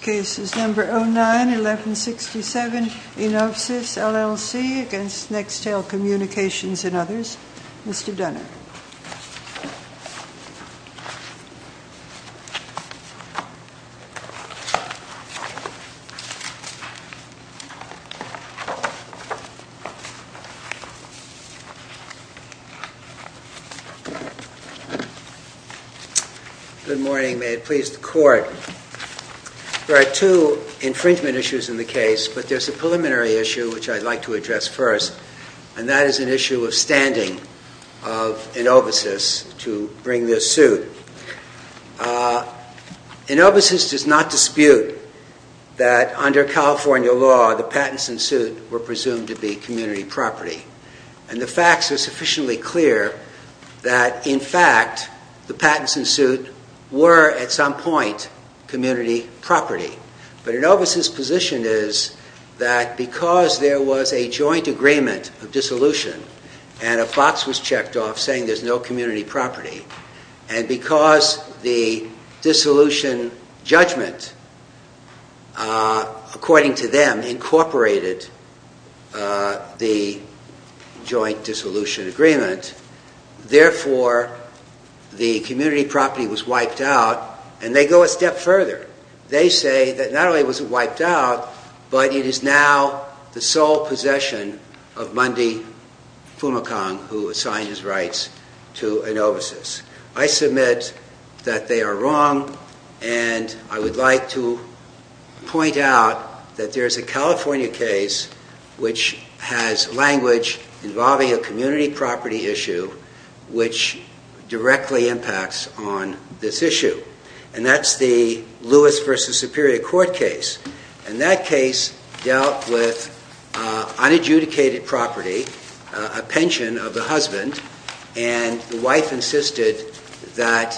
Cases No. 09, 1167, Enovsys, LLC, against Nextel Communications and others. Mr. Dunner. Good morning. May it please the Court. There are two infringement issues in the case, but there's a preliminary issue which I'd like to address first, and that is an issue of standing of Enovsys to bring this suit. Enovsys does not dispute that under California law the patents and suit were presumed to be community property, and the facts are sufficiently clear that in fact the patents and suit were at some point community property. But Enovsys' position is that because there was a joint agreement of dissolution and a box was checked off saying there's no community property, and because the dissolution judgment, according to them, incorporated the joint dissolution agreement, therefore the community property was wiped out, and they go a step further. They say that not only was it wiped out, but it is now the sole possession of Mundy Fumacong, who assigned his rights to Enovsys. I submit that they are wrong, and I would like to point out that there's a California case which has language involving a community property issue which directly impacts on this issue, and that's the Lewis v. Superior Court case. And that case dealt with unadjudicated property, a pension of the husband, and the wife insisted that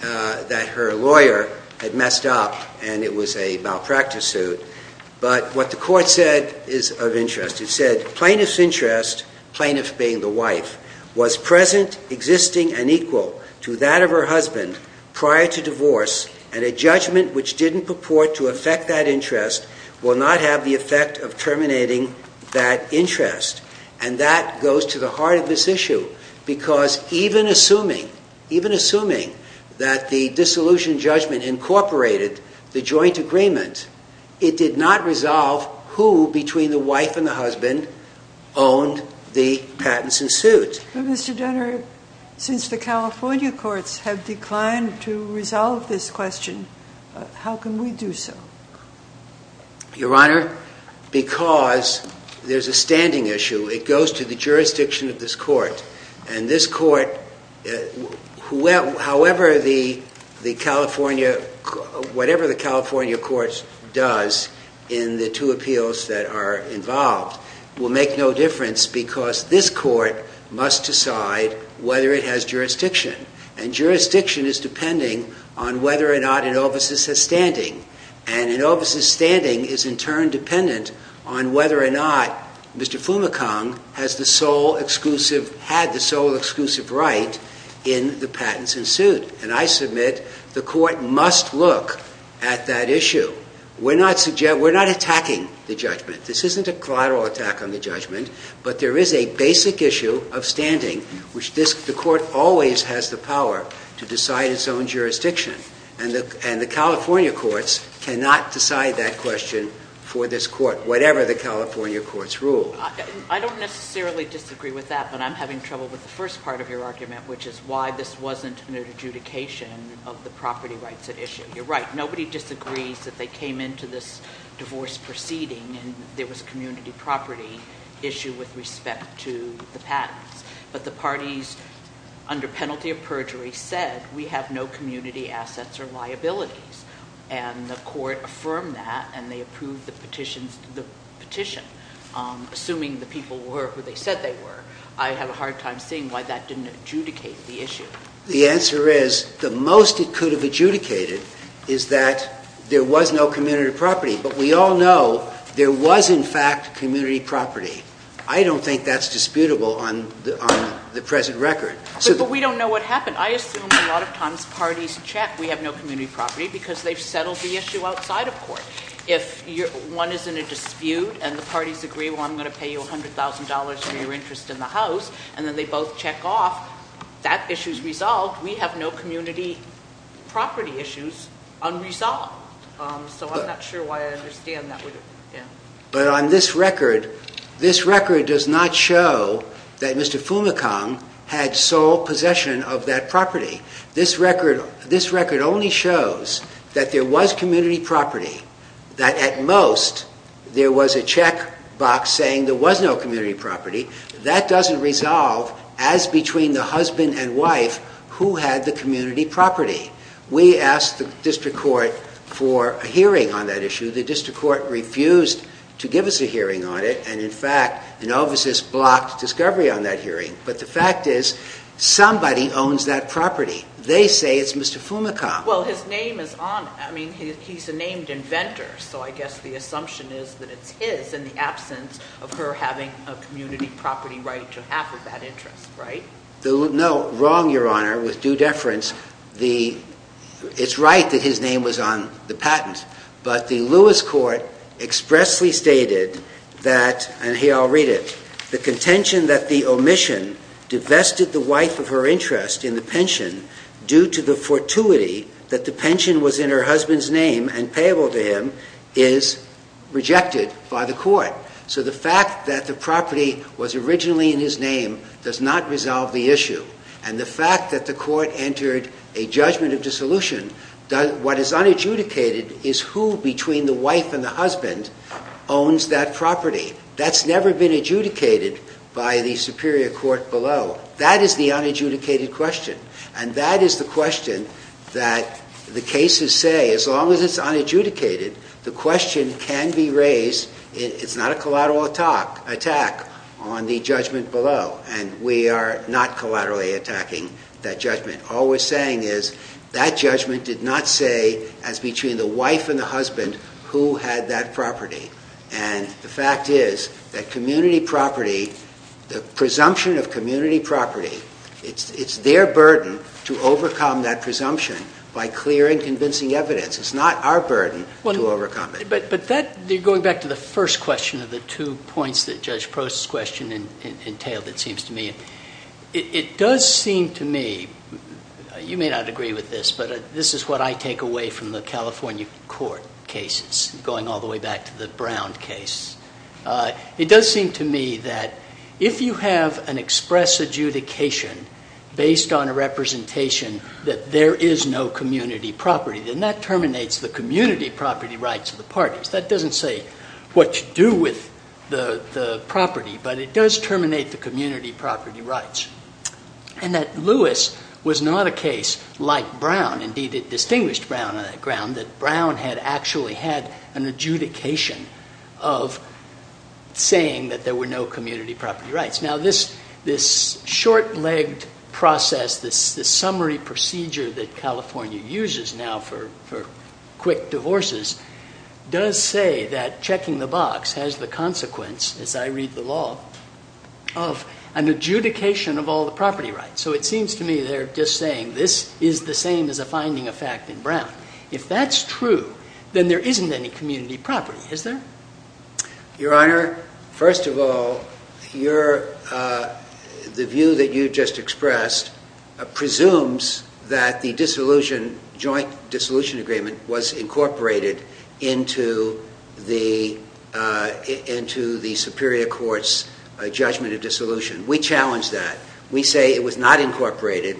her lawyer had messed up and it was a plaintiff being the wife, was present, existing, and equal to that of her husband prior to divorce, and a judgment which didn't purport to affect that interest will not have the effect of terminating that interest. And that goes to the heart of this issue, because even assuming that the dissolution judgment incorporated the joint agreement, it did not resolve who between the wife and the husband owned the patents and suits. But Mr. Dunner, since the California courts have declined to resolve this question, how can we do so? Your Honor, because there's a standing issue. It goes to the jurisdiction of this court, and this court, however the California, whatever the California courts does in the two appeals that are involved, will make no difference because this court must decide whether it has jurisdiction. And jurisdiction is depending on whether or not an office is standing. And an office's standing is in turn dependent on whether or not Mr. Fumikang has the sole exclusive, had the sole exclusive right in the patents and suit. And I submit the court must look at that issue. We're not attacking the judgment. This isn't a collateral attack on the judgment, but there is a basic issue of standing, which the court always has the power to decide its own jurisdiction. And the California courts cannot decide that question for this court, whatever the California courts rule. I don't necessarily disagree with that, but I'm having trouble with the first part of your argument, which is why this wasn't an adjudication of the property rights issue. You're right. Nobody disagrees that they came into this divorce proceeding and there was community property issue with respect to the patents. But the parties under penalty of perjury said, we have no community assets or liabilities. And the court affirmed that and they approved the petition. Assuming the people were who they said they were, I have a hard time seeing why that didn't adjudicate the issue. The answer is, the most it could have adjudicated is that there was no community property. But we all know there was in fact community property. I don't think that's disputable on the present record. But we don't know what happened. I assume a lot of times parties check we have no community property because they've settled the issue outside of court. If one is in a dispute and the parties agree, well, I'm going to pay you $100,000 for your interest in the house and then they both check off, that issue is resolved. We have no community property issues unresolved. So I'm not sure why I understand that. But on this record, this record does not show that Mr. Fumikang had sole possession of that property. It shows that there was community property, that at most there was a check box saying there was no community property. That doesn't resolve as between the husband and wife who had the community property. We asked the district court for a hearing on that issue. The district court refused to give us a hearing on it. And in fact, Novacis blocked discovery on that hearing. But the fact is, somebody owns that property. They say it's Mr. Fumikang. Well, his name is on it. I mean, he's a named inventor. So I guess the assumption is that it's his in the absence of her having a community property right to have that interest, right? No, wrong, Your Honor. With due deference, it's right that his name was on the patent. But the Lewis court expressly stated that, and here I'll read it, the contention that the omission divested the wife of her interest in the pension due to the fortuity that the pension was in her husband's name and payable to him is rejected by the court. So the fact that the property was originally in his name does not resolve the issue. And the fact that the court entered a judgment of dissolution, what is unadjudicated is who between the wife and the husband owns that property. That's never been adjudicated by the superior court below. That is the unadjudicated question. And that is the question that the cases say, as long as it's unadjudicated, the question can be raised. It's not a collateral attack on the judgment below. And we are not collaterally attacking that judgment. All we're saying is that judgment did not say, as between the wife and the husband, who had that property. And the fact is that community property, the presumption of community property, it's their burden to overcome that presumption by clearing convincing evidence. It's not our burden to overcome it. But that, going back to the first question of the two points that Judge Prost's question entailed, it seems to me, it does seem to me, you may not agree with this, but this is what I take away from the California court cases, going all the way back to the Brown case. It does seem to me that if you have an express adjudication based on a representation that there is no community property, then that terminates the community property rights of the parties. That doesn't say what to do with the property, but it does terminate the community property rights. And that Lewis was not a case like Brown. Indeed, it distinguished Brown on that ground, that Brown had actually had an adjudication of saying that there were no community property rights. Now this short-legged process, this summary procedure that California uses now for quick divorces, does say that checking the box has the consequence, as I read the law, of an adjudication of all the property rights. So it seems to me they're just saying this is the same as a finding of fact in Brown. If that's true, then there isn't any community property, is there? Your Honor, first of all, the view that you just expressed presumes that the joint dissolution agreement was incorporated into the Superior Court's judgment of dissolution. We challenge that. We say it was not incorporated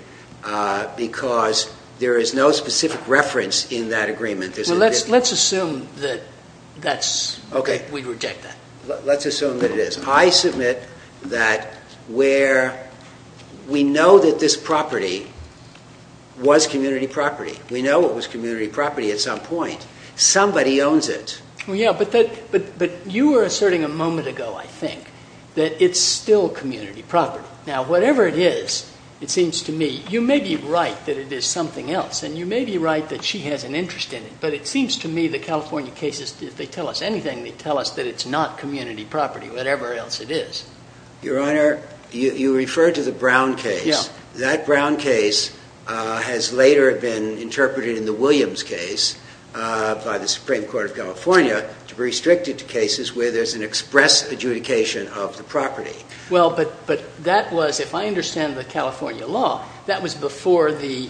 because there is no specific reference in that agreement. Let's assume that we reject that. Let's assume that it is. I submit that we know that this property was community property. We know it was community property at some point. Somebody owns it. Yeah, but you were asserting a moment ago, I think, that it's still community property. Now whatever it is, it seems to me, you may be right that it is something else, and you may be right that she has an interest in it, but it seems to me the California cases, if they tell us anything, they tell us that it's not community property, whatever else it is. Your Honor, you referred to the Brown case. That Brown case has later been interpreted in the Williams case by the Supreme Court of California to restrict it to cases where there's an express adjudication of the property. Well, but that was, if I understand the California law, that was before the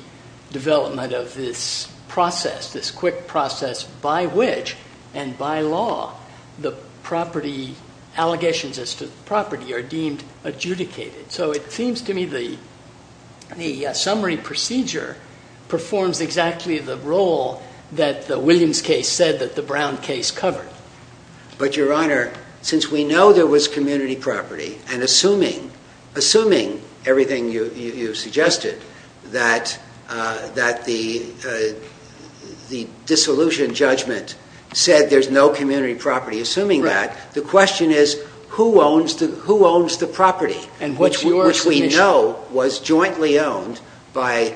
development of this process, this quick process by which and by law the property, allegations as to the property are deemed adjudicated. So it seems to me the summary procedure performs exactly the role that the Williams case said that the Brown case covered. But Your Honor, since we know there was community property, and assuming, assuming everything you suggested, that the dissolution judgment said there's no community property, assuming that, the question is who owns the property? And which we know was jointly owned by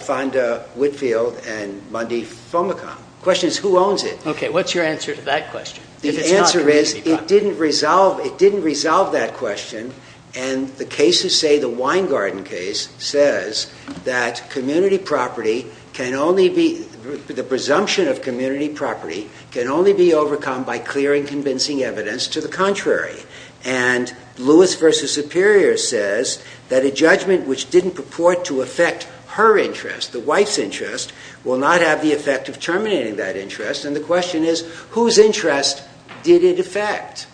Fonda Whitfield and Mundy Fomacon. The question is who owns it? Okay, what's your answer to that question? The answer is it didn't resolve, it didn't resolve that question. And the cases say, the Wine Garden case says that community property can only be, the presumption of community property can only be overcome by clearing convincing evidence to the contrary. And Lewis v. Superior says that a judgment which didn't purport to affect her interest, the wife's interest, will not have the effect of terminating that interest. And the question is whose interest did it affect?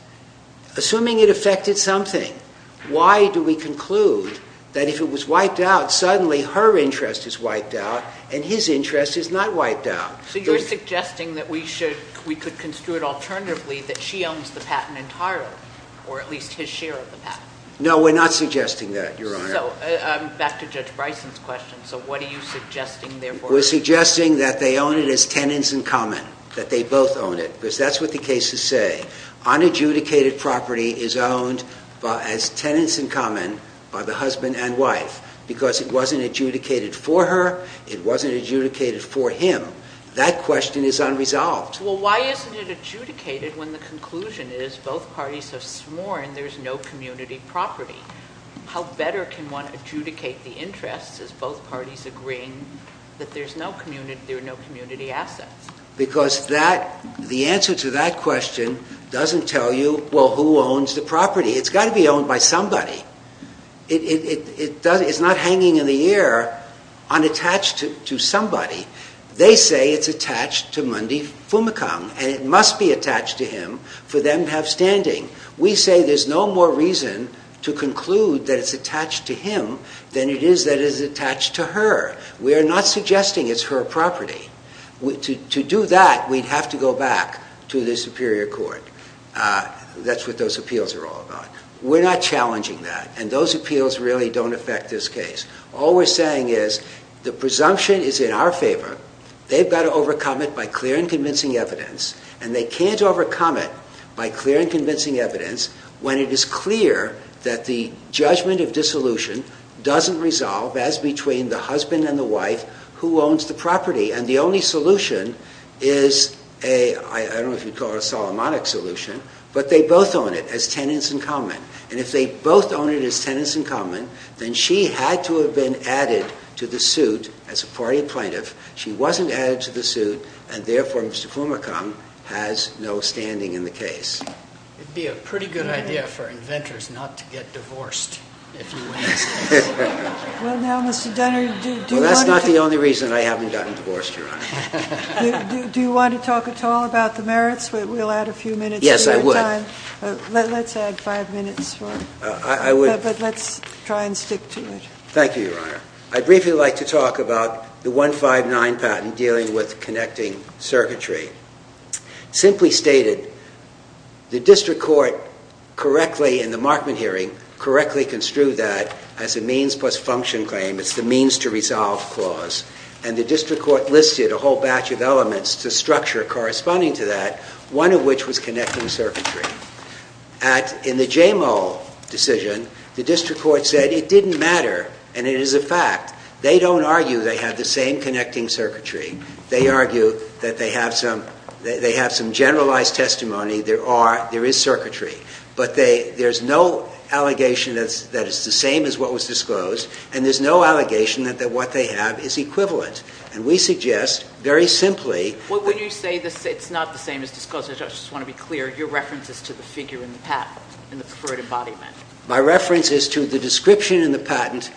Assuming it affected something, why do we conclude that if it was wiped out, suddenly her interest is wiped out and his interest is not wiped out? So you're suggesting that we should, we could construe it alternatively that she owns the patent entirely, or at least his share of the patent? No we're not suggesting that, Your Honor. So, back to Judge Bryson's question, so what are you suggesting therefore? We're suggesting that they own it as tenants in common, that they both own it. Because that's what the cases say. Unadjudicated property is owned as tenants in common by the husband and wife because it wasn't adjudicated for her, it wasn't adjudicated for him. That question is unresolved. Well why isn't it adjudicated when the conclusion is both parties have sworn there's no community property? How better can one adjudicate the interests as both parties agreeing that there's no community, there are no community assets? Because that, the answer to that question doesn't tell you, well who owns the property? It's got to be owned by somebody. It's not hanging in the air unattached to somebody. They say it's attached to Mundy Fumicombe and it must be attached to him for them to have standing. We say there's no more reason to conclude that it's attached to him than it is that it's attached to her. We're not suggesting it's her property. To do that we'd have to go back to the Superior Court. That's what those appeals are all about. We're not challenging that and those appeals really don't affect this case. All we're saying is the presumption is in our favor. They've got to overcome it by clear and convincing evidence and they can't overcome it by clear and convincing evidence when it is clear that the judgment of dissolution doesn't resolve as between the husband and the wife who owns the property and the only solution is a, I don't know if you'd call it a Solomonic solution, but they both own it as tenants in common and if they both own it as tenants in common then she had to have been added to the suit as a party plaintiff. She wasn't added to the suit and therefore Mr. Fumicombe has no standing in the case. It'd be a pretty good idea for inventors not to get divorced if you win this case. Well now Mr. Dunner, do you want to... Well that's not the only reason I haven't gotten divorced, Your Honor. Do you want to talk at all about the merits? We'll add a few minutes to your time. Yes, I would. Let's add five minutes more. I would... But let's try and stick to it. Thank you, Your Honor. I'd briefly like to talk about the 159 patent dealing with connecting circuitry. Simply stated, the district court correctly, in the Markman hearing, correctly construed that as a means plus function claim. It's the means to resolve clause and the district court listed a whole batch of elements to structure corresponding to that, one of which was connecting circuitry. At, in the JMO decision, the district court said it didn't matter and it is a fact. They don't argue they have the same connecting circuitry. They argue that they have some, they have some generalized testimony. There are, there is circuitry. But they, there's no allegation that's, that it's the same as what was disclosed and there's no allegation that what they have is equivalent. And we suggest, very simply... When you say it's not the same as disclosed, I just want to be clear, your reference is to the figure in the patent, in the court embodiment. My reference is to the description in the patent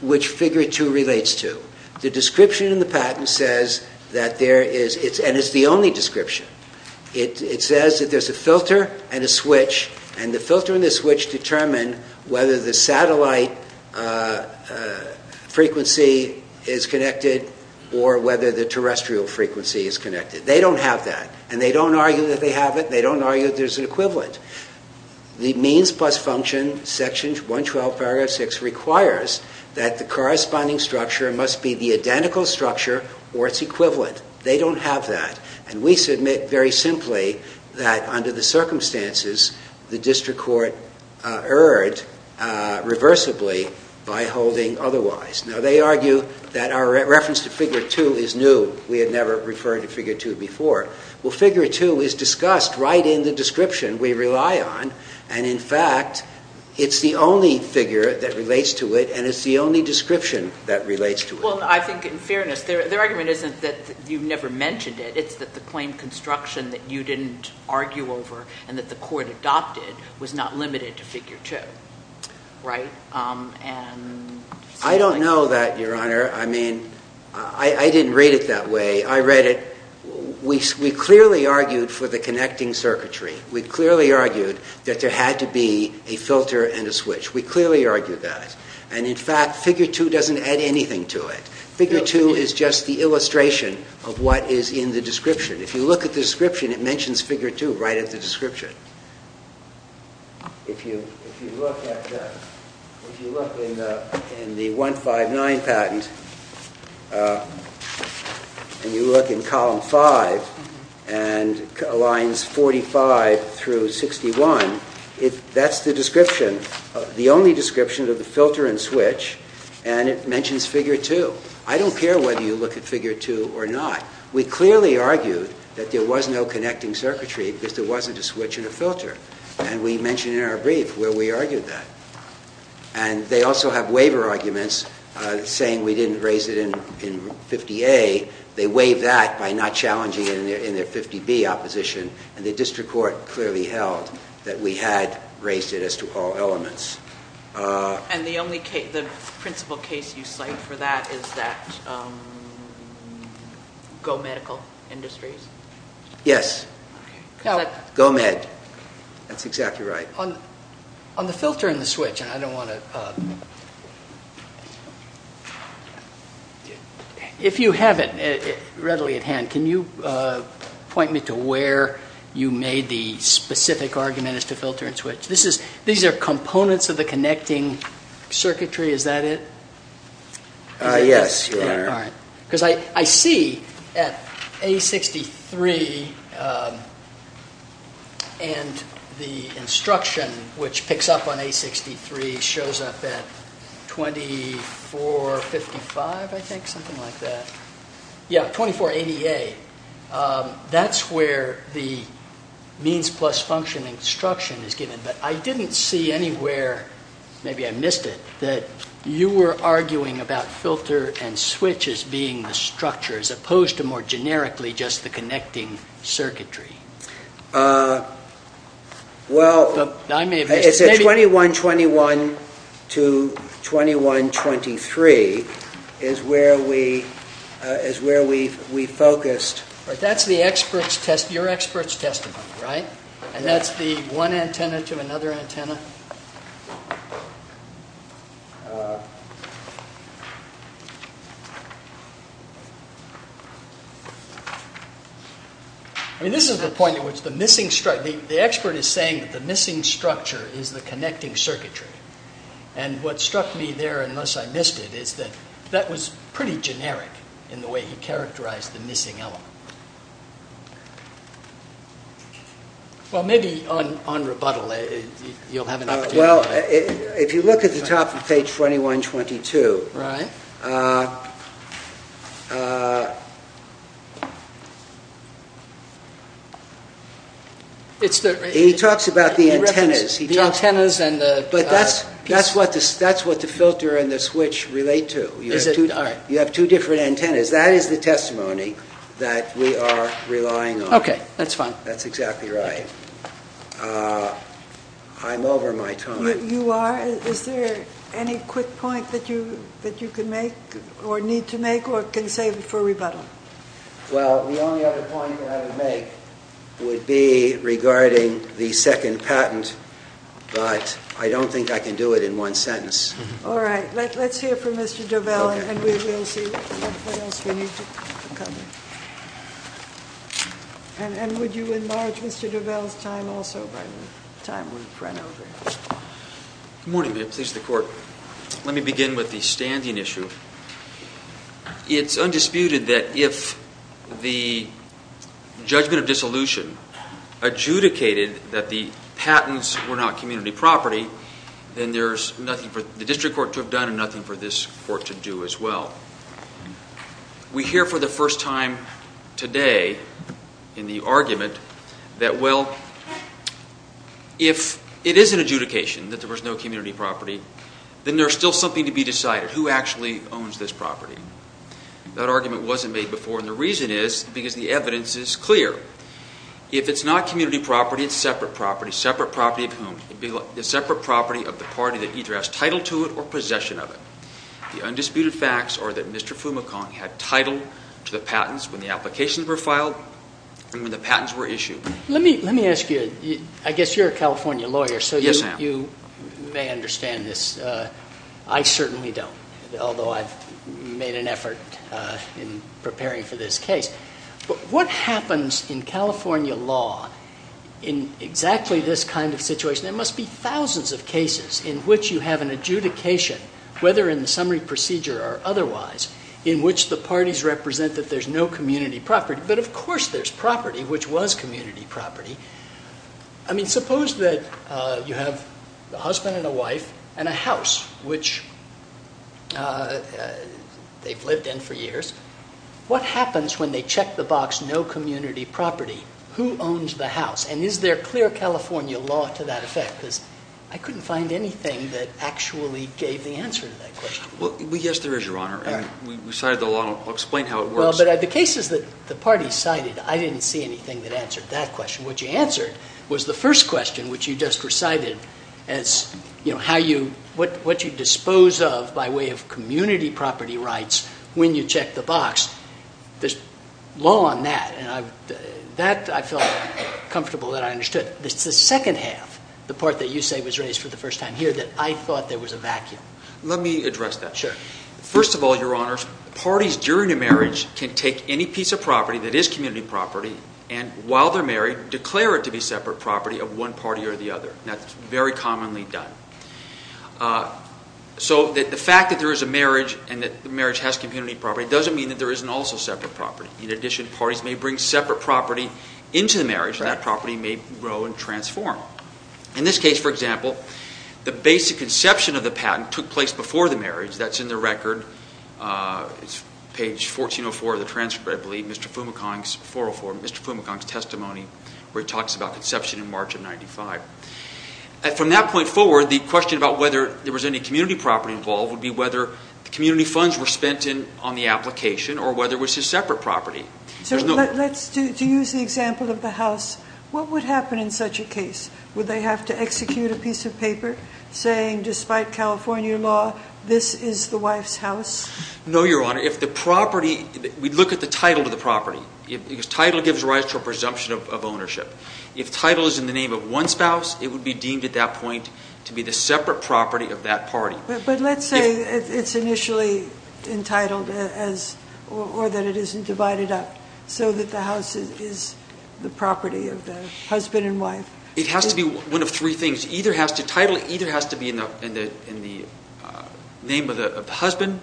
which figure two relates to. The description in the patent says that there is, and it's the only description, it says that there's a filter and a switch and the filter and the switch determine whether the satellite frequency is connected or whether the terrestrial frequency is connected. They don't have that and they don't argue that they have it. They don't argue that there's an equivalent. The means plus function, section 112, paragraph 6, requires that the corresponding structure must be the identical structure or its equivalent. They don't have that. And we submit, very simply, that under the circumstances, the district court erred reversibly by holding otherwise. Now they argue that our reference to figure two is new. We had never referred to figure two before. Well, figure two is discussed right in the description we rely on and, in fact, it's the only figure that relates to it and it's the only description that relates to it. Well, I think, in fairness, their argument isn't that you never mentioned it. It's that the claim construction that you didn't argue over and that the court adopted was not limited to figure two, right? I don't know that, your Honor. I mean, I didn't read it that way. I read it, we clearly argued for the connecting circuitry. We clearly argued that there had to be a filter and a switch. We clearly argued that. And, in fact, figure two doesn't add anything to it. Figure two is just the illustration of what is in the description. If you look at the description, it mentions figure two right at the description. If you look in the 159 patent and you look in column five and lines 45 through 61, that's the description, the only description of the filter and switch and it mentions figure two. I don't care whether you look at figure two or not. We clearly argued that there was no filter. And we mentioned in our brief where we argued that. And they also have waiver arguments saying we didn't raise it in 50A. They waive that by not challenging it in their 50B opposition and the district court clearly held that we had raised it as to all elements. And the only case, the principal case you cite for that is that GoMedical Industries? Yes. GoMed. That's exactly right. On the filter and the switch, and I don't want to... If you have it readily at hand, can you point me to where you made the specific argument as to filter and switch? These are components of the connecting circuitry, is that it? Yes, Your Honor. Because I see at A63 and the instruction which picks up on A63 shows up at 2455, I think, something like that. Yeah, 2480A. That's where the means plus function instruction is given. But I didn't see anywhere, maybe I missed it, that you were arguing about filter and switch as being the structure as opposed to more generically just the connecting circuitry. Well, it's at 2121 to 2123 is where we focused... That's your expert's testimony, right? And that's the one antenna to another antenna? This is the point at which the missing structure... The expert is saying that the missing structure is the connecting circuitry. And what struck me there, unless I missed it, is that that was pretty generic in the way he characterized the missing element. Well maybe on rebuttal you'll have an opportunity... If you look at the top of page 2122... He talks about the antennas. But that's what the filter and the switch relate to. You have two different antennas. That is the testimony that we are relying on. Okay, that's fine. That's exactly right. I'm over my time. You are? Is there any quick point that you can make or need to make or can save for rebuttal? Well, the only other point that I would make would be regarding the second patent, but I don't think I can do it in one sentence. All right. Let's hear from Mr. Duvall and we will see what else we need to cover. And would you enlarge Mr. Duvall's time also by the time we've run over? Good morning, Madam Police Department. Let me begin with the standing issue. It's undisputed that if the judgment of dissolution adjudicated that the patents were not community property, then there's nothing for the district court to have done and nothing for this court to do as well. We hear for the first time today in the argument that, well, if it is an adjudication that there was no community property, then there's still something to be decided. Who actually owns this property? That argument wasn't made before and the reason is because the evidence is clear. If it's not community property, it's separate property. Separate property of whom? It's separate property of the party that either has title to it or possession of it. The undisputed facts are that Mr. Fumicant had title to the patents when the applications were filed and when the patents were issued. Let me ask you, I guess you're a California lawyer, so you may understand this. I certainly don't, although I've made an effort in preparing for this case. But what happens in California law in exactly this kind of situation? There must be thousands of cases in which you have an adjudication, whether in the summary procedure or otherwise, in which the parties represent that there's no community property. But of course there's property, which was community property. I mean, suppose that you have a husband and a wife and a house, which they've lived in for years. What happens when they check the box, no community property? Who owns the house and is there clear California law to that effect? Because I couldn't find anything that actually gave the answer to that question. Well, yes, there is, Your Honor, and we cited the law. I'll explain how it works. Well, but of the cases that the parties cited, I didn't see anything that answered that question. What you answered was the first question, which you just recited as, you know, what you dispose of by way of community property rights when you check the box. There's law on that, and that I felt comfortable that I understood. It's the second half, the part that you say was raised for the first time here, that I thought there was a vacuum. Let me address that. Sure. First of all, Your Honors, parties during a marriage can take any piece of property that is community property and while they're married declare it to be separate property of one party or the other. That's very commonly done. So the fact that there is a marriage and that the marriage has community property doesn't mean that there isn't also separate property. In addition, parties may bring separate property into the marriage, and that property may grow and transform. In this case, for example, the basic conception of the patent took place before the marriage. That's in the record. It's page 1404 of the transcript, I believe, Mr. Fumicong's, 404, Mr. Fumicong's testimony, where he talks about conception in March of 1995. From that point forward, the question about whether there was any community property involved would be whether the community funds were spent on the application or whether it was just separate property. To use the example of the house, what would happen in such a case? Would they have to execute a piece of paper saying, despite California law, this is the wife's house? No, Your Honor. If the property, we'd look at the title of the property, because title gives rise to a presumption of ownership. If title is in the name of one spouse, it would be deemed at that point to be the separate property of that party. But let's say it's initially entitled or that it isn't divided up so that the house is the property of the husband and wife. It has to be one of three things. Title either has to be in the name of the husband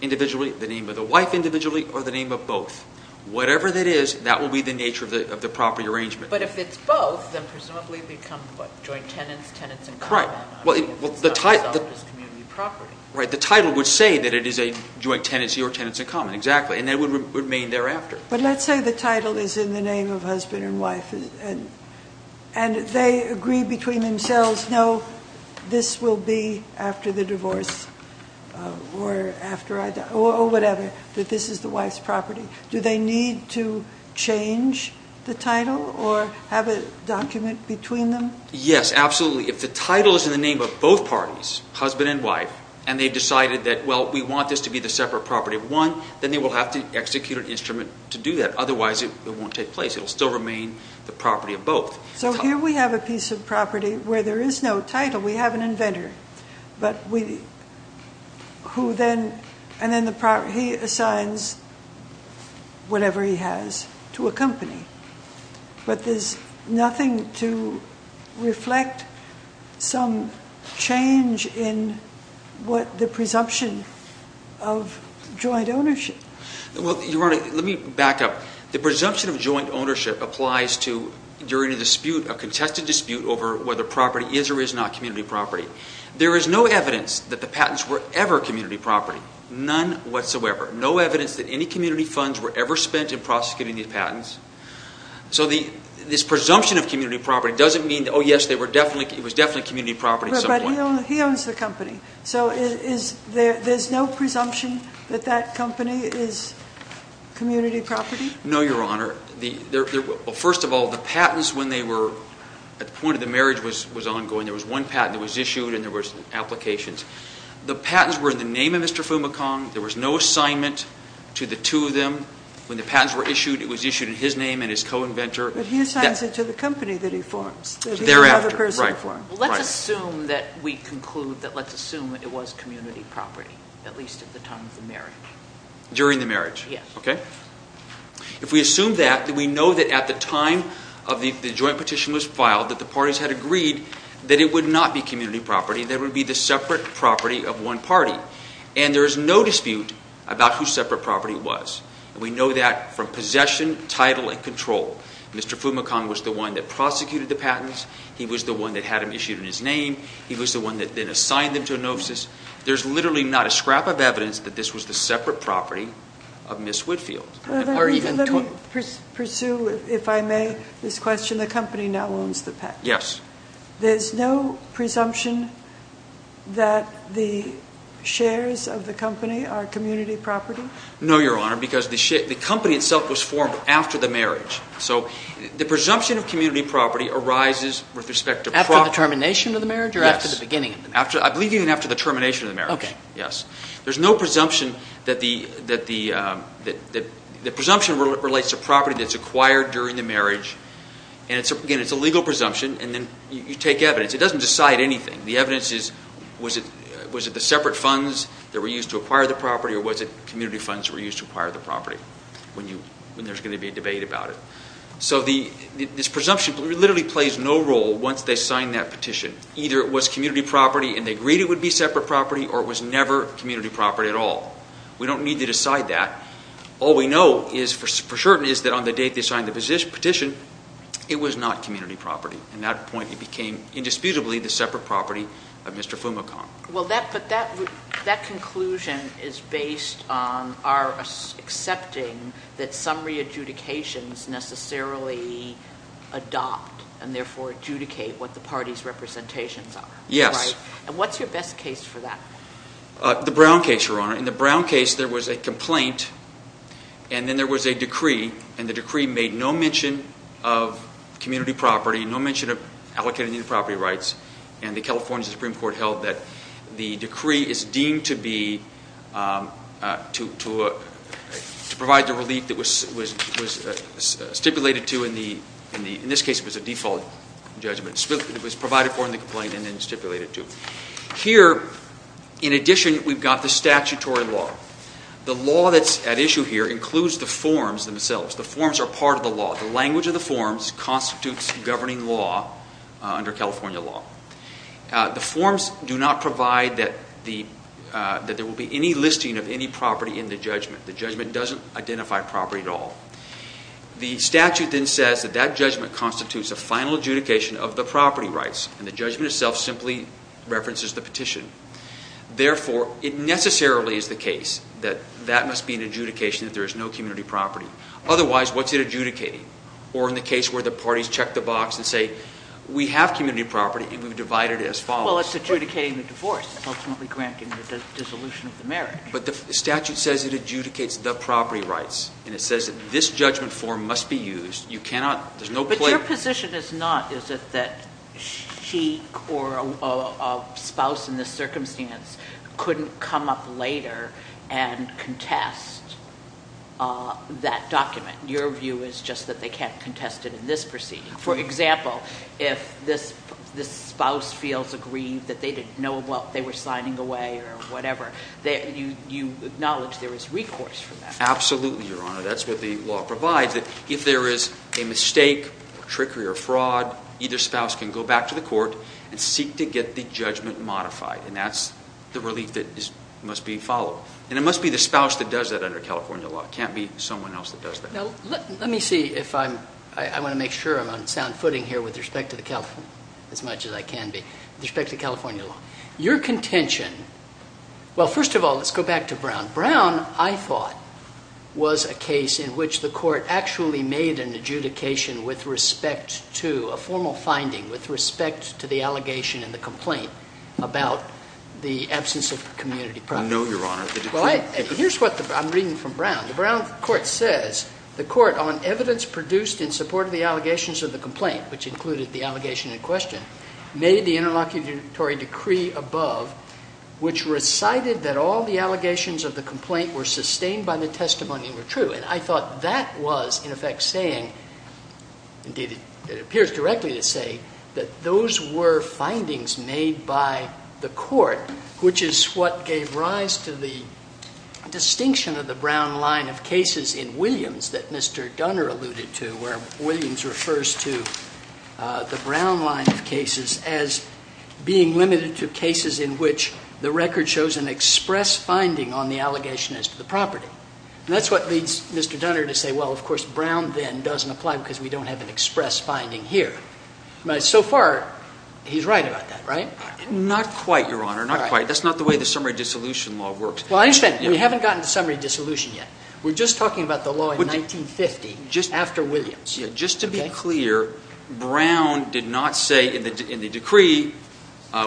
individually, the name of the wife individually, or the name of both. Whatever that is, that will be the nature of the property arrangement. But if it's both, then presumably it would become joint tenants, tenants in common. Well, the title would say that it is a joint tenancy or tenants in common, exactly, and that would remain thereafter. But let's say the title is in the name of husband and wife and they agree between themselves, no, this will be after the divorce or after I die, or whatever, that this is the wife's property. Do they need to change the title or have a document between them? Yes, absolutely. If the title is in the name of both parties, husband and wife, and they've decided that, well, we want this to be the separate property of one, then they will have to execute an instrument to do that. Otherwise, it won't take place. It will still remain the property of both. So here we have a piece of property where there is no title. But we – who then – and then the property – he assigns whatever he has to a company. But there's nothing to reflect some change in what the presumption of joint ownership. Well, Your Honor, let me back up. The presumption of joint ownership applies to during a dispute, a contested dispute over whether property is or is not community property. There is no evidence that the patents were ever community property, none whatsoever, no evidence that any community funds were ever spent in prosecuting these patents. So this presumption of community property doesn't mean, oh, yes, they were definitely – it was definitely community property at some point. But he owns the company. So is – there's no presumption that that company is community property? No, Your Honor. Well, first of all, the patents, when they were – at the point of the marriage was ongoing, there was one patent that was issued and there was applications. The patents were in the name of Mr. Fumicong. There was no assignment to the two of them. When the patents were issued, it was issued in his name and his co-inventor. But he assigns it to the company that he forms. Thereafter. That he and another person form. Right. Let's assume that we conclude that – let's assume that it was community property, at least at the time of the marriage. During the marriage? Yes. Okay. If we assume that, then we know that at the time of the – the joint petition was filed that the parties had agreed that it would not be community property. That it would be the separate property of one party. And there is no dispute about whose separate property it was. And we know that from possession, title, and control. Mr. Fumicong was the one that prosecuted the patents. He was the one that had them issued in his name. He was the one that then assigned them to Anophis. There's literally not a scrap of evidence that this was the separate property of Ms. Whitfield. Let me pursue, if I may, this question. The company now owns the patent. Yes. There's no presumption that the shares of the company are community property? No, Your Honor, because the company itself was formed after the marriage. So the presumption of community property arises with respect to property. After the termination of the marriage or after the beginning of the marriage? Yes. I believe even after the termination of the marriage. Okay. Yes. There's no presumption that the – the presumption relates to property that's acquired during the marriage. And, again, it's a legal presumption, and then you take evidence. It doesn't decide anything. The evidence is was it the separate funds that were used to acquire the property or was it community funds that were used to acquire the property when there's going to be a debate about it. So this presumption literally plays no role once they sign that petition. Either it was community property and they agreed it would be separate property or it was never community property at all. We don't need to decide that. All we know for certain is that on the date they signed the petition, it was not community property. At that point, it became indisputably the separate property of Mr. Fumicon. Well, that – but that conclusion is based on our accepting that some re-adjudications necessarily adopt and, therefore, adjudicate what the party's representations are. Yes. Right? And what's your best case for that? The Brown case, Your Honor. In the Brown case, there was a complaint, and then there was a decree, and the decree made no mention of community property, no mention of allocated property rights. And the California Supreme Court held that the decree is deemed to be – to provide the relief that was stipulated to in the – in this case, it was a default judgment. It was provided for in the complaint and then stipulated to. Here, in addition, we've got the statutory law. The law that's at issue here includes the forms themselves. The forms are part of the law. The language of the forms constitutes governing law under California law. The forms do not provide that the – that there will be any listing of any property in the judgment. The judgment doesn't identify property at all. The statute then says that that judgment constitutes a final adjudication of the property rights, and the judgment itself simply references the petition. Therefore, it necessarily is the case that that must be an adjudication that there is no community property. Otherwise, what's it adjudicating? Or in the case where the parties check the box and say, we have community property and we've divided it as follows. Well, it's adjudicating the divorce. It's ultimately granting the dissolution of the marriage. But the statute says it adjudicates the property rights, and it says that this judgment form must be used. You cannot – there's no place – Your position is not, is it, that she or a spouse in this circumstance couldn't come up later and contest that document. Your view is just that they can't contest it in this proceeding. For example, if this spouse feels aggrieved that they didn't know what they were signing away or whatever, you acknowledge there is recourse for that. Absolutely, Your Honor. That's what the law provides, that if there is a mistake or trickery or fraud, either spouse can go back to the court and seek to get the judgment modified. And that's the relief that must be followed. And it must be the spouse that does that under California law. It can't be someone else that does that. Now, let me see if I'm – I want to make sure I'm on sound footing here with respect to the – as much as I can be – with respect to California law. Your contention – well, first of all, let's go back to Brown. Brown, I thought, was a case in which the court actually made an adjudication with respect to – a formal finding with respect to the allegation and the complaint about the absence of community property. No, Your Honor. Here's what I'm reading from Brown. The Brown court says the court, on evidence produced in support of the allegations of the complaint, which included the allegation in question, made the interlocutory decree above, which recited that all the allegations of the complaint were sustained by the testimony and were true. And I thought that was, in effect, saying – indeed, it appears directly to say that those were findings made by the court, which is what gave rise to the distinction of the Brown line of cases in Williams that Mr. Dunner alluded to, where Williams refers to the Brown line of cases as being limited to cases in which the record shows an express finding on the allegation as to the property. And that's what leads Mr. Dunner to say, well, of course, Brown then doesn't apply because we don't have an express finding here. But so far, he's right about that, right? Not quite, Your Honor. Not quite. That's not the way the summary dissolution law works. Well, I understand. We haven't gotten to summary dissolution yet. We're just talking about the law in 1950 after Williams. Just to be clear, Brown did not say in the decree,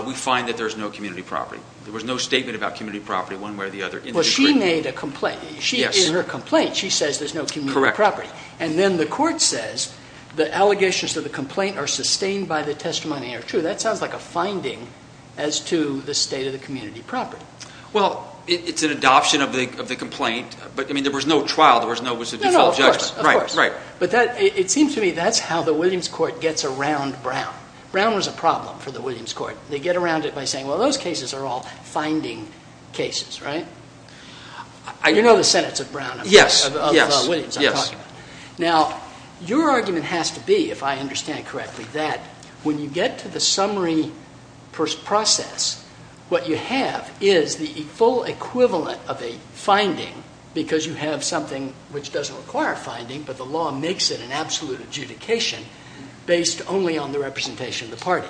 we find that there's no community property. There was no statement about community property one way or the other in the decree. She made a complaint. In her complaint, she says there's no community property. Correct. And then the court says the allegations of the complaint are sustained by the testimony are true. That sounds like a finding as to the state of the community property. Well, it's an adoption of the complaint. But, I mean, there was no trial. There was no default of judgment. No, no, of course. Right, right. But it seems to me that's how the Williams court gets around Brown. Brown was a problem for the Williams court. They get around it by saying, well, those cases are all finding cases, right? You know the sentence of Williams I'm talking about. Yes, yes. Now, your argument has to be, if I understand correctly, that when you get to the summary process, what you have is the full equivalent of a finding because you have something which doesn't require a finding, but the law makes it an absolute adjudication based only on the representation of the party.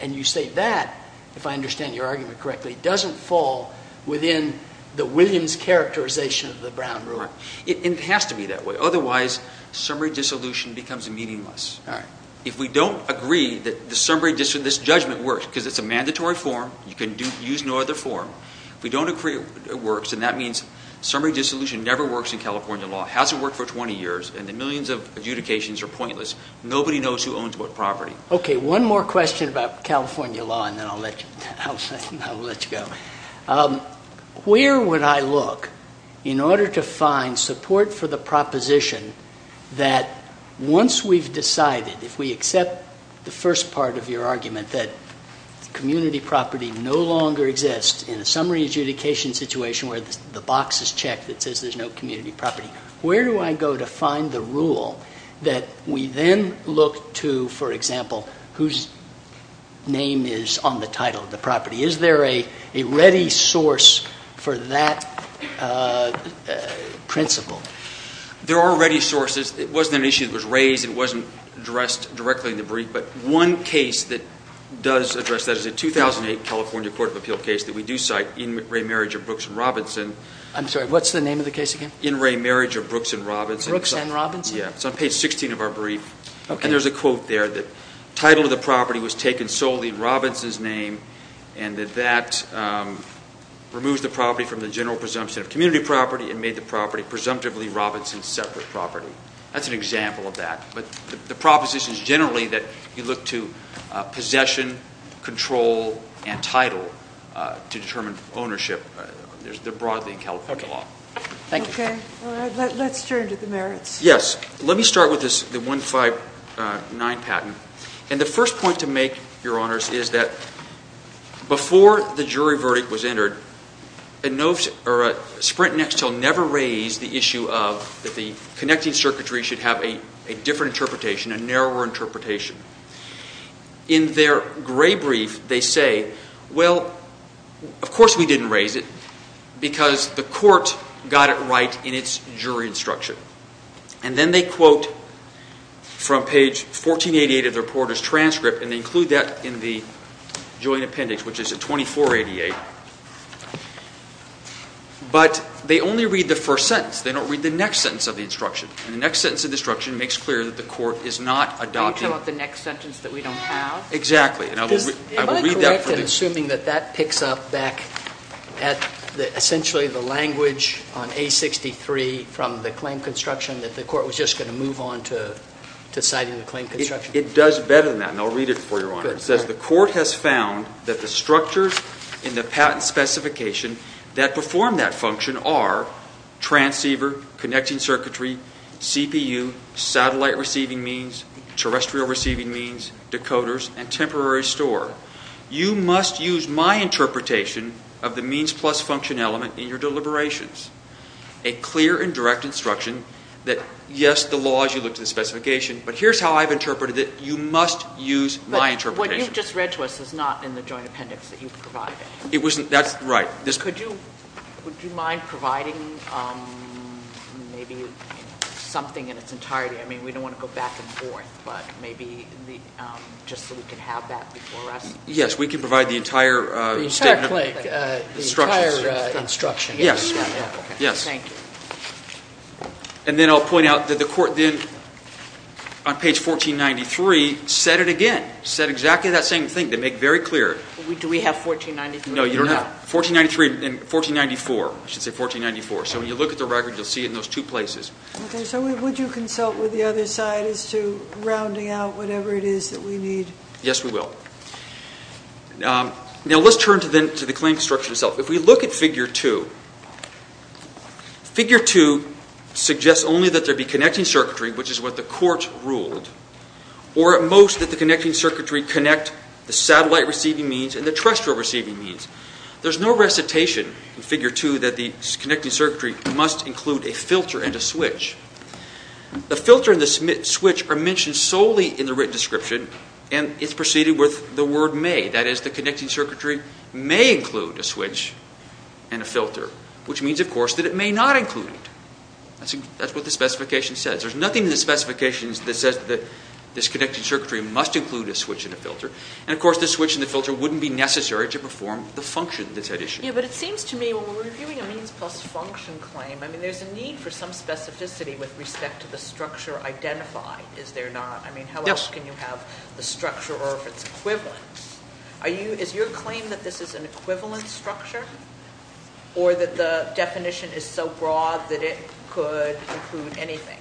And you say that, if I understand your argument correctly, doesn't fall within the Williams characterization of the Brown rule. It has to be that way. Otherwise, summary dissolution becomes meaningless. All right. If we don't agree that this judgment works because it's a mandatory form. You can use no other form. If we don't agree it works, then that means summary dissolution never works in California law. It hasn't worked for 20 years, and the millions of adjudications are pointless. Nobody knows who owns what property. Okay. One more question about California law, and then I'll let you go. Where would I look in order to find support for the proposition that once we've decided, if we accept the first part of your argument that community property no longer exists, in a summary adjudication situation where the box is checked that says there's no community property, where do I go to find the rule that we then look to, for example, whose name is on the title of the property? Is there a ready source for that principle? There are ready sources. It wasn't an issue that was raised. It wasn't addressed directly in the brief. But one case that does address that is a 2008 California court of appeal case that we do cite, In Ray Marriage of Brooks and Robinson. I'm sorry, what's the name of the case again? In Ray Marriage of Brooks and Robinson. Brooks and Robinson? Yeah. It's on page 16 of our brief. Okay. And there's a quote there that title of the property was taken solely in Robinson's name and that that removes the property from the general presumption of community property and made the property presumptively Robinson's separate property. That's an example of that. But the proposition is generally that you look to possession, control, and title to determine ownership. They're broadly in California law. Thank you. Okay. All right. Let's turn to the merits. Yes. Let me start with the 159 patent. And the first point to make, Your Honors, is that before the jury verdict was entered, Sprint Nextel never raised the issue of the connecting circuitry should have a different interpretation, a narrower interpretation. In their gray brief, they say, well, of course we didn't raise it because the court got it right in its jury instruction. And then they quote from page 1488 of the reporter's transcript, and they include that in the joint appendix, which is at 2488. But they only read the first sentence. They don't read the next sentence of the instruction. And the next sentence of the instruction makes clear that the court is not adopting it. You're talking about the next sentence that we don't have? Exactly. Am I correct in assuming that that picks up back at essentially the language on A63 from the claim construction that the court was just going to move on to citing the claim construction? It does better than that, and I'll read it for you, Your Honor. It says, The court has found that the structures in the patent specification that perform that function are transceiver, connecting circuitry, CPU, satellite receiving means, terrestrial receiving means, decoders, and temporary store. You must use my interpretation of the means plus function element in your deliberations. A clear and direct instruction that, yes, the law is you look to the specification, but here's how I've interpreted it. You must use my interpretation. But what you just read to us is not in the joint appendix that you provided. That's right. Would you mind providing maybe something in its entirety? I mean, we don't want to go back and forth, but maybe just so we can have that before us. Yes, we can provide the entire statement. The entire claim. Instructions. The entire instruction. Yes, yes. Thank you. And then I'll point out that the court then on page 1493 said it again, said exactly that same thing. They make it very clear. Do we have 1493? No, you don't have 1493 and 1494. I should say 1494. So when you look at the record, you'll see it in those two places. Okay. So would you consult with the other side as to rounding out whatever it is that we need? Yes, we will. Now let's turn to the claim structure itself. If we look at Figure 2, Figure 2 suggests only that there be connecting circuitry, which is what the court ruled, or at most that the connecting circuitry connect the satellite-receiving means and the terrestrial-receiving means. There's no recitation in Figure 2 that the connecting circuitry must include a filter and a switch. The filter and the switch are mentioned solely in the written description, and it's preceded with the word may. That is, the connecting circuitry may include a switch and a filter, which means, of course, that it may not include it. That's what the specification says. There's nothing in the specification that says that this connecting circuitry must include a switch and a filter. And, of course, the switch and the filter wouldn't be necessary to perform the function that's at issue. Yeah, but it seems to me, when we're reviewing a means-plus-function claim, I mean, there's a need for some specificity with respect to the structure identified, is there not? I mean, how else can you have the structure or if it's equivalent? Is your claim that this is an equivalent structure or that the definition is so broad that it could include anything?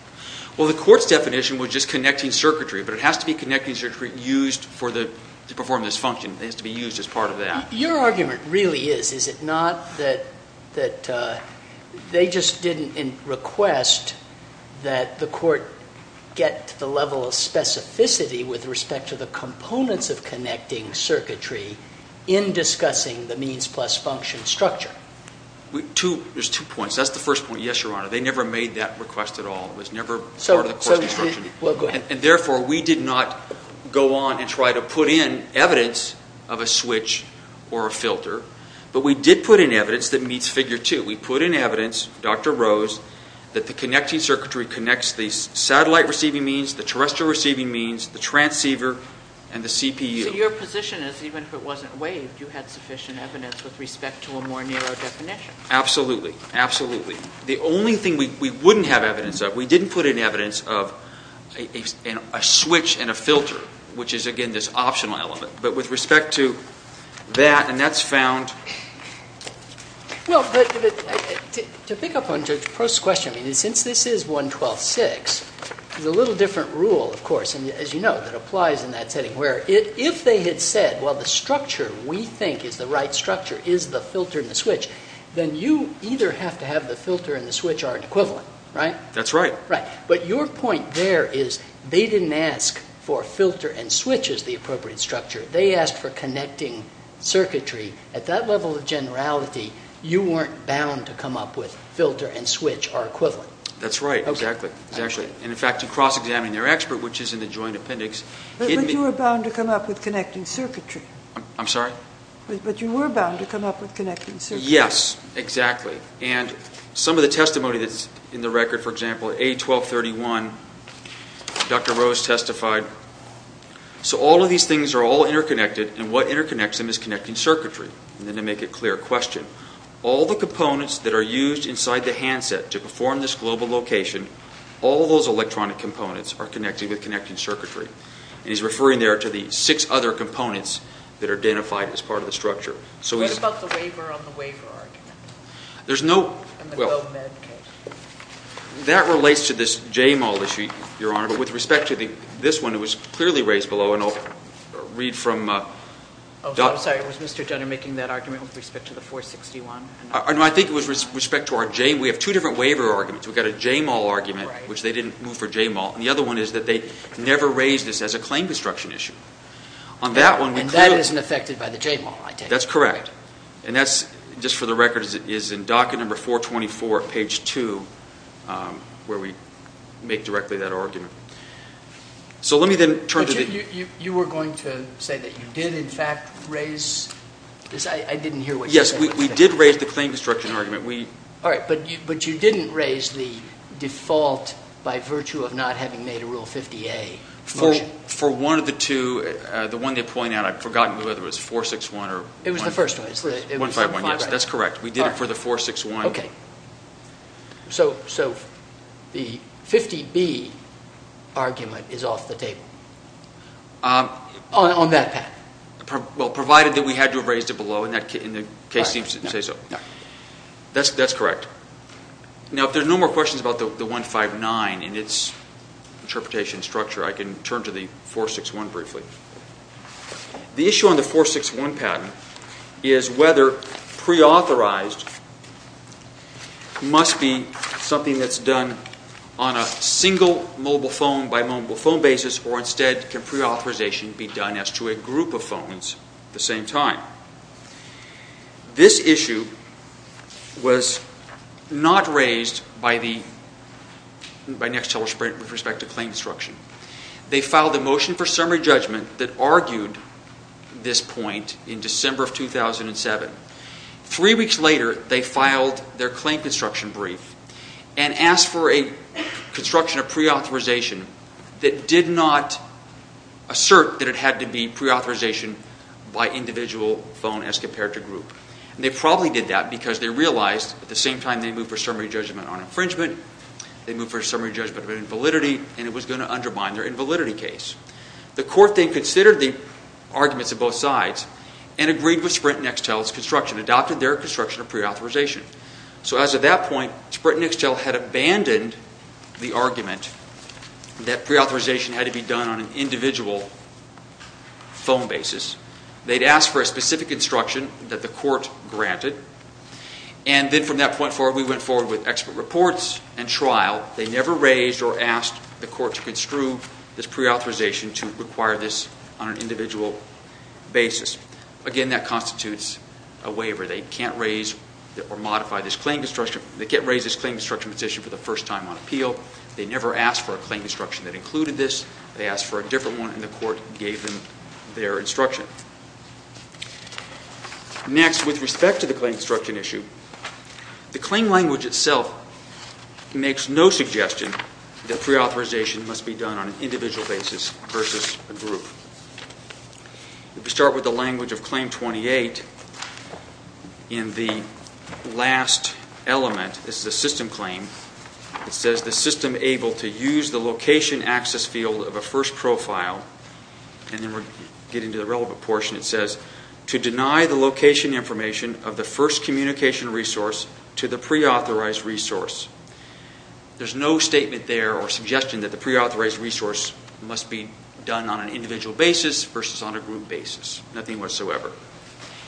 Well, the court's definition was just connecting circuitry, but it has to be connecting circuitry used to perform this function. It has to be used as part of that. Your argument really is, is it not, that they just didn't request that the court get to the level of specificity with respect to the components of connecting circuitry in discussing the means-plus-function structure? There's two points. That's the first point, yes, Your Honor. They never made that request at all. It was never part of the court's definition. And, therefore, we did not go on and try to put in evidence of a switch or a filter, but we did put in evidence that meets Figure 2. We put in evidence, Dr. Rose, that the connecting circuitry connects the satellite-receiving means, the terrestrial-receiving means, the transceiver, and the CPU. So your position is, even if it wasn't waived, you had sufficient evidence with respect to a more narrow definition? Absolutely. Absolutely. The only thing we wouldn't have evidence of, we didn't put in evidence of a switch and a filter, which is, again, this optional element. But with respect to that, and that's found. Well, but to pick up on Judge Post's question, I mean, since this is 112-6, there's a little different rule, of course, as you know, that applies in that setting, where if they had said, well, the structure we think is the right structure is the filter and the switch, then you either have to have the filter and the switch are equivalent, right? That's right. But your point there is, they didn't ask for filter and switch as the appropriate structure. They asked for connecting circuitry. At that level of generality, you weren't bound to come up with filter and switch are equivalent. That's right, exactly. And, in fact, to cross-examine their expert, which is in the joint appendix. But you were bound to come up with connecting circuitry. I'm sorry? But you were bound to come up with connecting circuitry. Yes, exactly. And some of the testimony that's in the record, for example, A-1231, Dr. Rose testified, so all of these things are all interconnected, and what interconnects them is connecting circuitry. And then to make it clear, question. All the components that are used inside the handset to perform this global location, all those electronic components are connected with connecting circuitry. And he's referring there to the six other components that are identified as part of the structure. What about the waiver on the waiver argument? Well, that relates to this JMOL issue, Your Honor. But with respect to this one, it was clearly raised below, and I'll read from Dr. Oh, I'm sorry. Was Mr. Jenner making that argument with respect to the 461? No, I think it was with respect to our JMOL. We have two different waiver arguments. We've got a JMOL argument, which they didn't move for JMOL, and the other one is that they never raised this as a claim destruction issue. And that isn't affected by the JMOL, I take it? That's correct. And that's, just for the record, is in docket number 424, page 2, where we make directly that argument. So let me then turn to the But you were going to say that you did, in fact, raise this? I didn't hear what you said. Yes, we did raise the claim destruction argument. All right, but you didn't raise the default by virtue of not having made a Rule 50A motion. For one of the two, the one they point out, I've forgotten whether it was 461 or 151. It was the first one. 151, yes, that's correct. We did it for the 461. Okay. So the 50B argument is off the table on that path? Well, provided that we had to have raised it below, and the case seems to say so. That's correct. Now, if there are no more questions about the 159 and its interpretation structure, I can turn to the 461 briefly. The issue on the 461 patent is whether preauthorized must be something that's done on a single mobile phone by mobile phone basis, or instead, can preauthorization be done as to a group of phones at the same time? This issue was not raised by Nextel or Sprint with respect to claim destruction. They filed a motion for summary judgment that argued this point in December of 2007. Three weeks later, they filed their claim construction brief and asked for a construction of preauthorization that did not assert that it had to be preauthorization by individual phone as compared to group. And they probably did that because they realized at the same time they moved for summary judgment on infringement, they moved for summary judgment on invalidity, and it was going to undermine their invalidity case. The court then considered the arguments of both sides and agreed with Sprint and Nextel's construction, adopted their construction of preauthorization. So as of that point, Sprint and Nextel had abandoned the argument that preauthorization had to be done on an individual phone basis. They'd asked for a specific instruction that the court granted. And then from that point forward, we went forward with expert reports and trial. They never raised or asked the court to construe this preauthorization to require this on an individual basis. Again, that constitutes a waiver. They can't raise or modify this claim construction position for the first time on appeal. They never asked for a claim construction that included this. They asked for a different one, and the court gave them their instruction. Next, with respect to the claim construction issue, the claim language itself makes no suggestion that preauthorization must be done on an individual basis versus a group. If we start with the language of Claim 28, in the last element, this is a system claim, it says the system able to use the location access field of a first profile, and then we're getting to the relevant portion, it says, to deny the location information of the first communication resource to the preauthorized resource. There's no statement there or suggestion that the preauthorized resource must be done on an individual basis versus on a group basis, nothing whatsoever.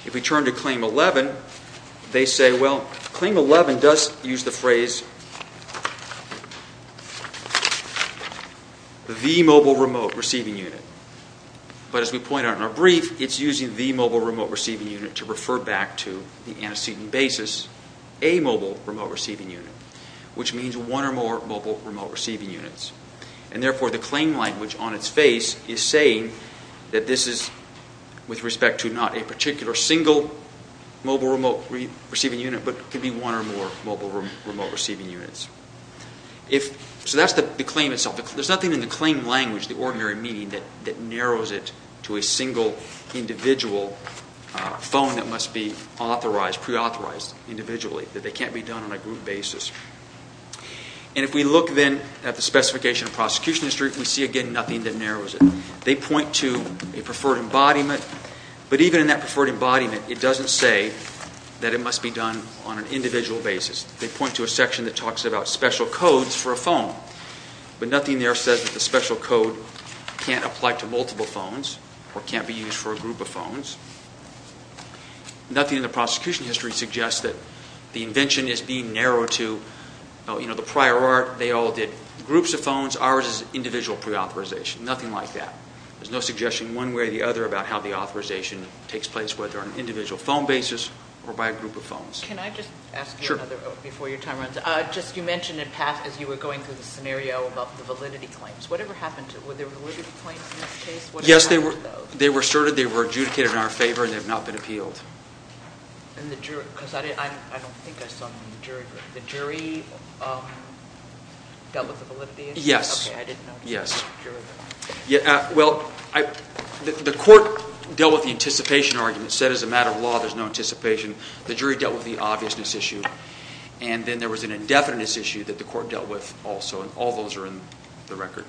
If we turn to Claim 11, they say, well, Claim 11 does use the phrase, the mobile remote receiving unit. But as we point out in our brief, it's using the mobile remote receiving unit to refer back to the antecedent basis, a mobile remote receiving unit, which means one or more mobile remote receiving units. And therefore, the claim language on its face is saying that this is, with respect to not a particular single mobile remote receiving unit, but could be one or more mobile remote receiving units. So that's the claim itself. There's nothing in the claim language, the ordinary meaning, that narrows it to a single individual phone that must be authorized, preauthorized individually, that they can't be done on a group basis. And if we look then at the specification of prosecution history, we see again nothing that narrows it. They point to a preferred embodiment, but even in that preferred embodiment, it doesn't say that it must be done on an individual basis. But nothing there says that the special code can't apply to multiple phones or can't be used for a group of phones. Nothing in the prosecution history suggests that the invention is being narrowed to the prior art. They all did groups of phones. Ours is individual preauthorization. Nothing like that. There's no suggestion one way or the other about how the authorization takes place, whether on an individual phone basis or by a group of phones. Can I just ask you another before your time runs out? Just you mentioned in past as you were going through the scenario about the validity claims. Whatever happened to it? Were there validity claims in this case? Yes, they were asserted. They were adjudicated in our favor, and they have not been appealed. And the jury? Because I don't think I saw the jury. The jury dealt with the validity issue? Yes. Okay, I didn't know. Yes. Well, the court dealt with the anticipation argument, said as a matter of law there's no anticipation. The jury dealt with the obviousness issue. And then there was an indefiniteness issue that the court dealt with also. And all those are in the record.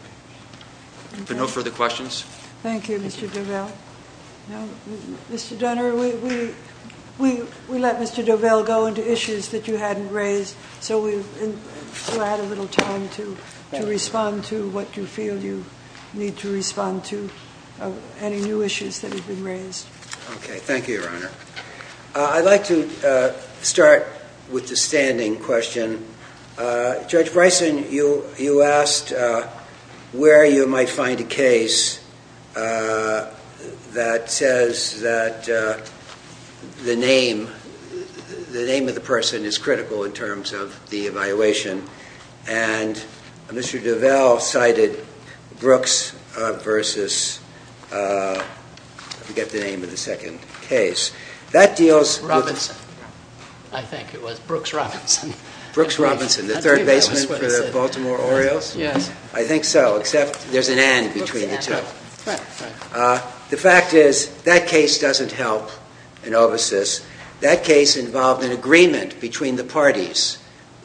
Are there no further questions? Thank you, Mr. Dovell. Mr. Dunner, we let Mr. Dovell go into issues that you hadn't raised, so we had a little time to respond to what you feel you need to respond to, Okay, thank you, Your Honor. I'd like to start with the standing question. Judge Bryson, you asked where you might find a case that says that the name of the person is critical in terms of the evaluation. And Mr. Dovell cited Brooks v. I forget the name of the second case. That deals with... Robinson. I think it was Brooks Robinson. Brooks Robinson, the third baseman for the Baltimore Orioles? Yes. I think so, except there's an N between the two. Right, right. The fact is that case doesn't help in OVCIS. That case involved an agreement between the parties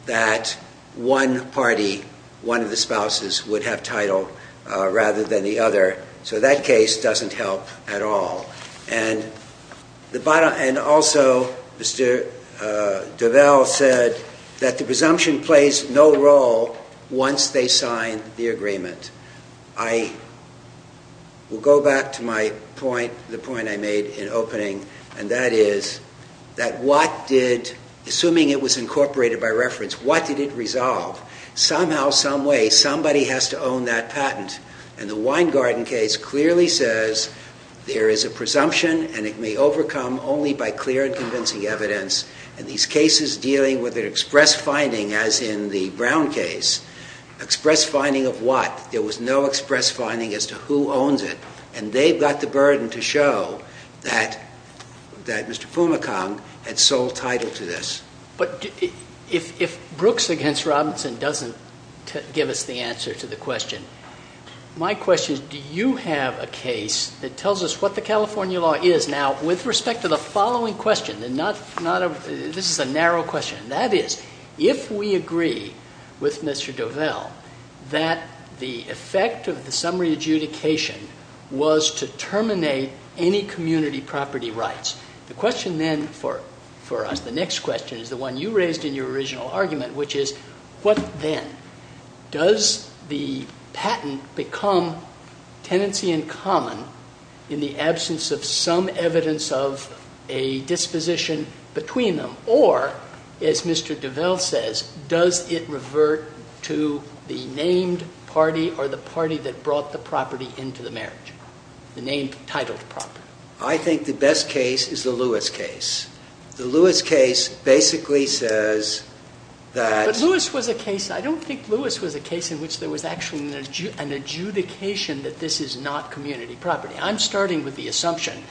that one party, one of the spouses, would have title rather than the other. So that case doesn't help at all. And also Mr. Dovell said that the presumption plays no role once they sign the agreement. I will go back to my point, the point I made in opening, and that is that what did, assuming it was incorporated by reference, what did it resolve? Somehow, someway, somebody has to own that patent. And the Weingarten case clearly says there is a presumption and it may overcome only by clear and convincing evidence. And these cases dealing with an express finding, as in the Brown case, express finding of what? There was no express finding as to who owns it. And they've got the burden to show that Mr. Fumicombe had sole title to this. But if Brooks against Robinson doesn't give us the answer to the question, my question is do you have a case that tells us what the California law is? Now, with respect to the following question, this is a narrow question. That is, if we agree with Mr. Dovell that the effect of the summary adjudication was to terminate any community property rights, the question then for us, the next question, is the one you raised in your original argument, which is what then? Does the patent become tenancy in common in the absence of some evidence of a disposition between them? Or, as Mr. Dovell says, does it revert to the named party or the party that brought the property into the marriage? The name titled property. I think the best case is the Lewis case. The Lewis case basically says that... I don't think Lewis was a case in which there was actually an adjudication that this is not community property. I'm starting with the assumption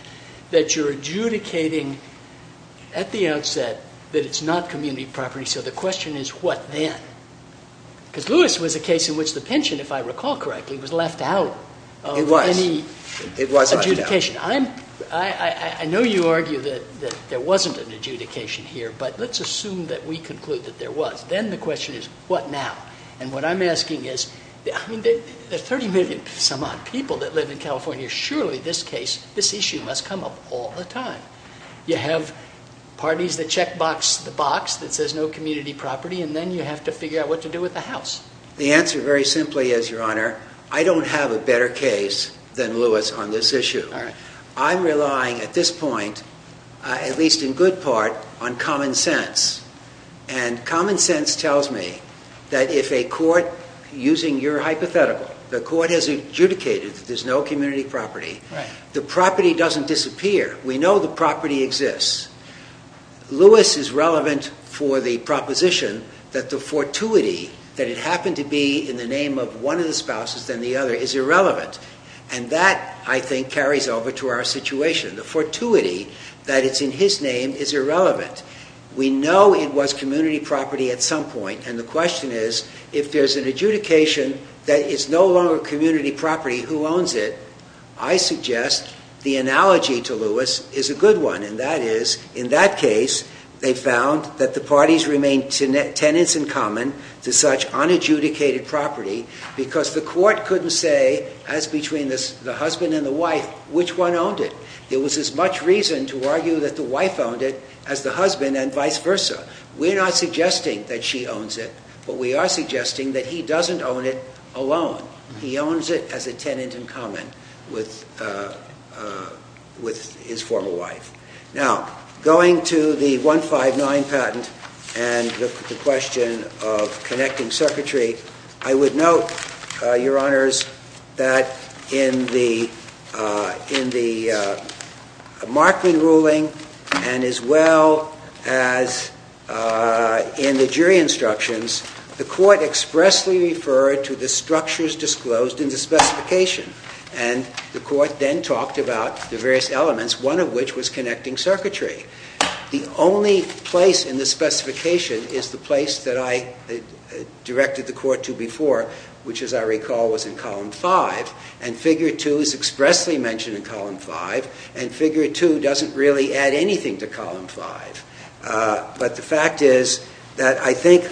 that you're adjudicating at the outset that it's not community property, so the question is what then? Because Lewis was a case in which the pension, if I recall correctly, was left out of any adjudication. I know you argue that there wasn't an adjudication here, but let's assume that we conclude that there was. Then the question is what now? And what I'm asking is, I mean, there are 30 million some odd people that live in California. Surely this case, this issue must come up all the time. You have parties that check box the box that says no community property, and then you have to figure out what to do with the house. The answer very simply is, Your Honor, I don't have a better case than Lewis on this issue. I'm relying at this point, at least in good part, on common sense. And common sense tells me that if a court, using your hypothetical, the court has adjudicated that there's no community property, the property doesn't disappear. We know the property exists. Lewis is relevant for the proposition that the fortuity that it happened to be in the name of one of the spouses than the other is irrelevant. And that, I think, carries over to our situation. The fortuity that it's in his name is irrelevant. We know it was community property at some point. And the question is, if there's an adjudication that it's no longer community property, who owns it? I suggest the analogy to Lewis is a good one. And that is, in that case, they found that the parties remained tenants in common to such unadjudicated property because the court couldn't say, as between the husband and the wife, which one owned it. There was as much reason to argue that the wife owned it as the husband and vice versa. We're not suggesting that she owns it. But we are suggesting that he doesn't own it alone. He owns it as a tenant in common with his former wife. Now, going to the 159 patent and the question of connecting circuitry, I would note, Your Honors, that in the Markman ruling and as well as in the jury instructions, the court expressly referred to the structures disclosed in the specification. And the court then talked about the various elements, one of which was connecting circuitry. The only place in the specification is the place that I directed the court to before, which, as I recall, was in Column 5. And Figure 2 is expressly mentioned in Column 5. And Figure 2 doesn't really add anything to Column 5. But the fact is that I think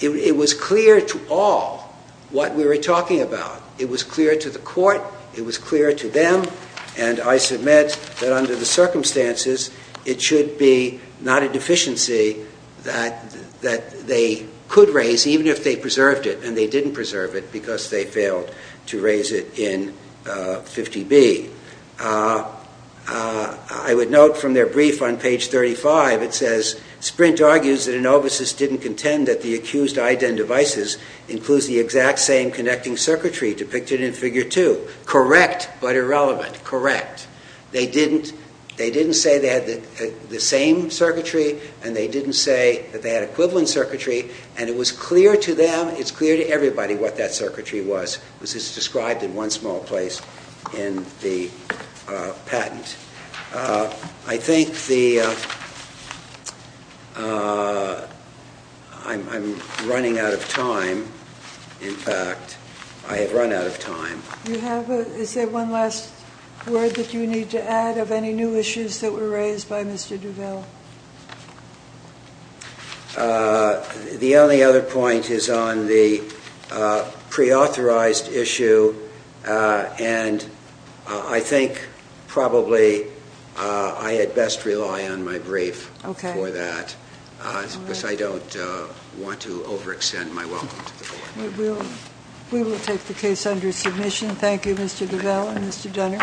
it was clear to all what we were talking about. It was clear to the court. It was clear to them. And I submit that under the circumstances, it should be not a deficiency that they could raise even if they preserved it. And they didn't preserve it because they failed to raise it in 50B. I would note from their brief on Page 35, it says, Sprint argues that Anovis didn't contend that the accused IDEN devices includes the exact same connecting circuitry depicted in Figure 2. Correct, but irrelevant. Correct. They didn't say they had the same circuitry and they didn't say that they had equivalent circuitry. And it was clear to them. It's clear to everybody what that circuitry was, which is described in one small place in the patent. I think I'm running out of time. In fact, I have run out of time. Is there one last word that you need to add of any new issues that were raised by Mr. DuVal? The only other point is on the preauthorized issue. And I think probably I had best rely on my brief for that because I don't want to overextend my welcome to the board. We will take the case under submission. Thank you, Mr. DuVal and Mr. Dunner.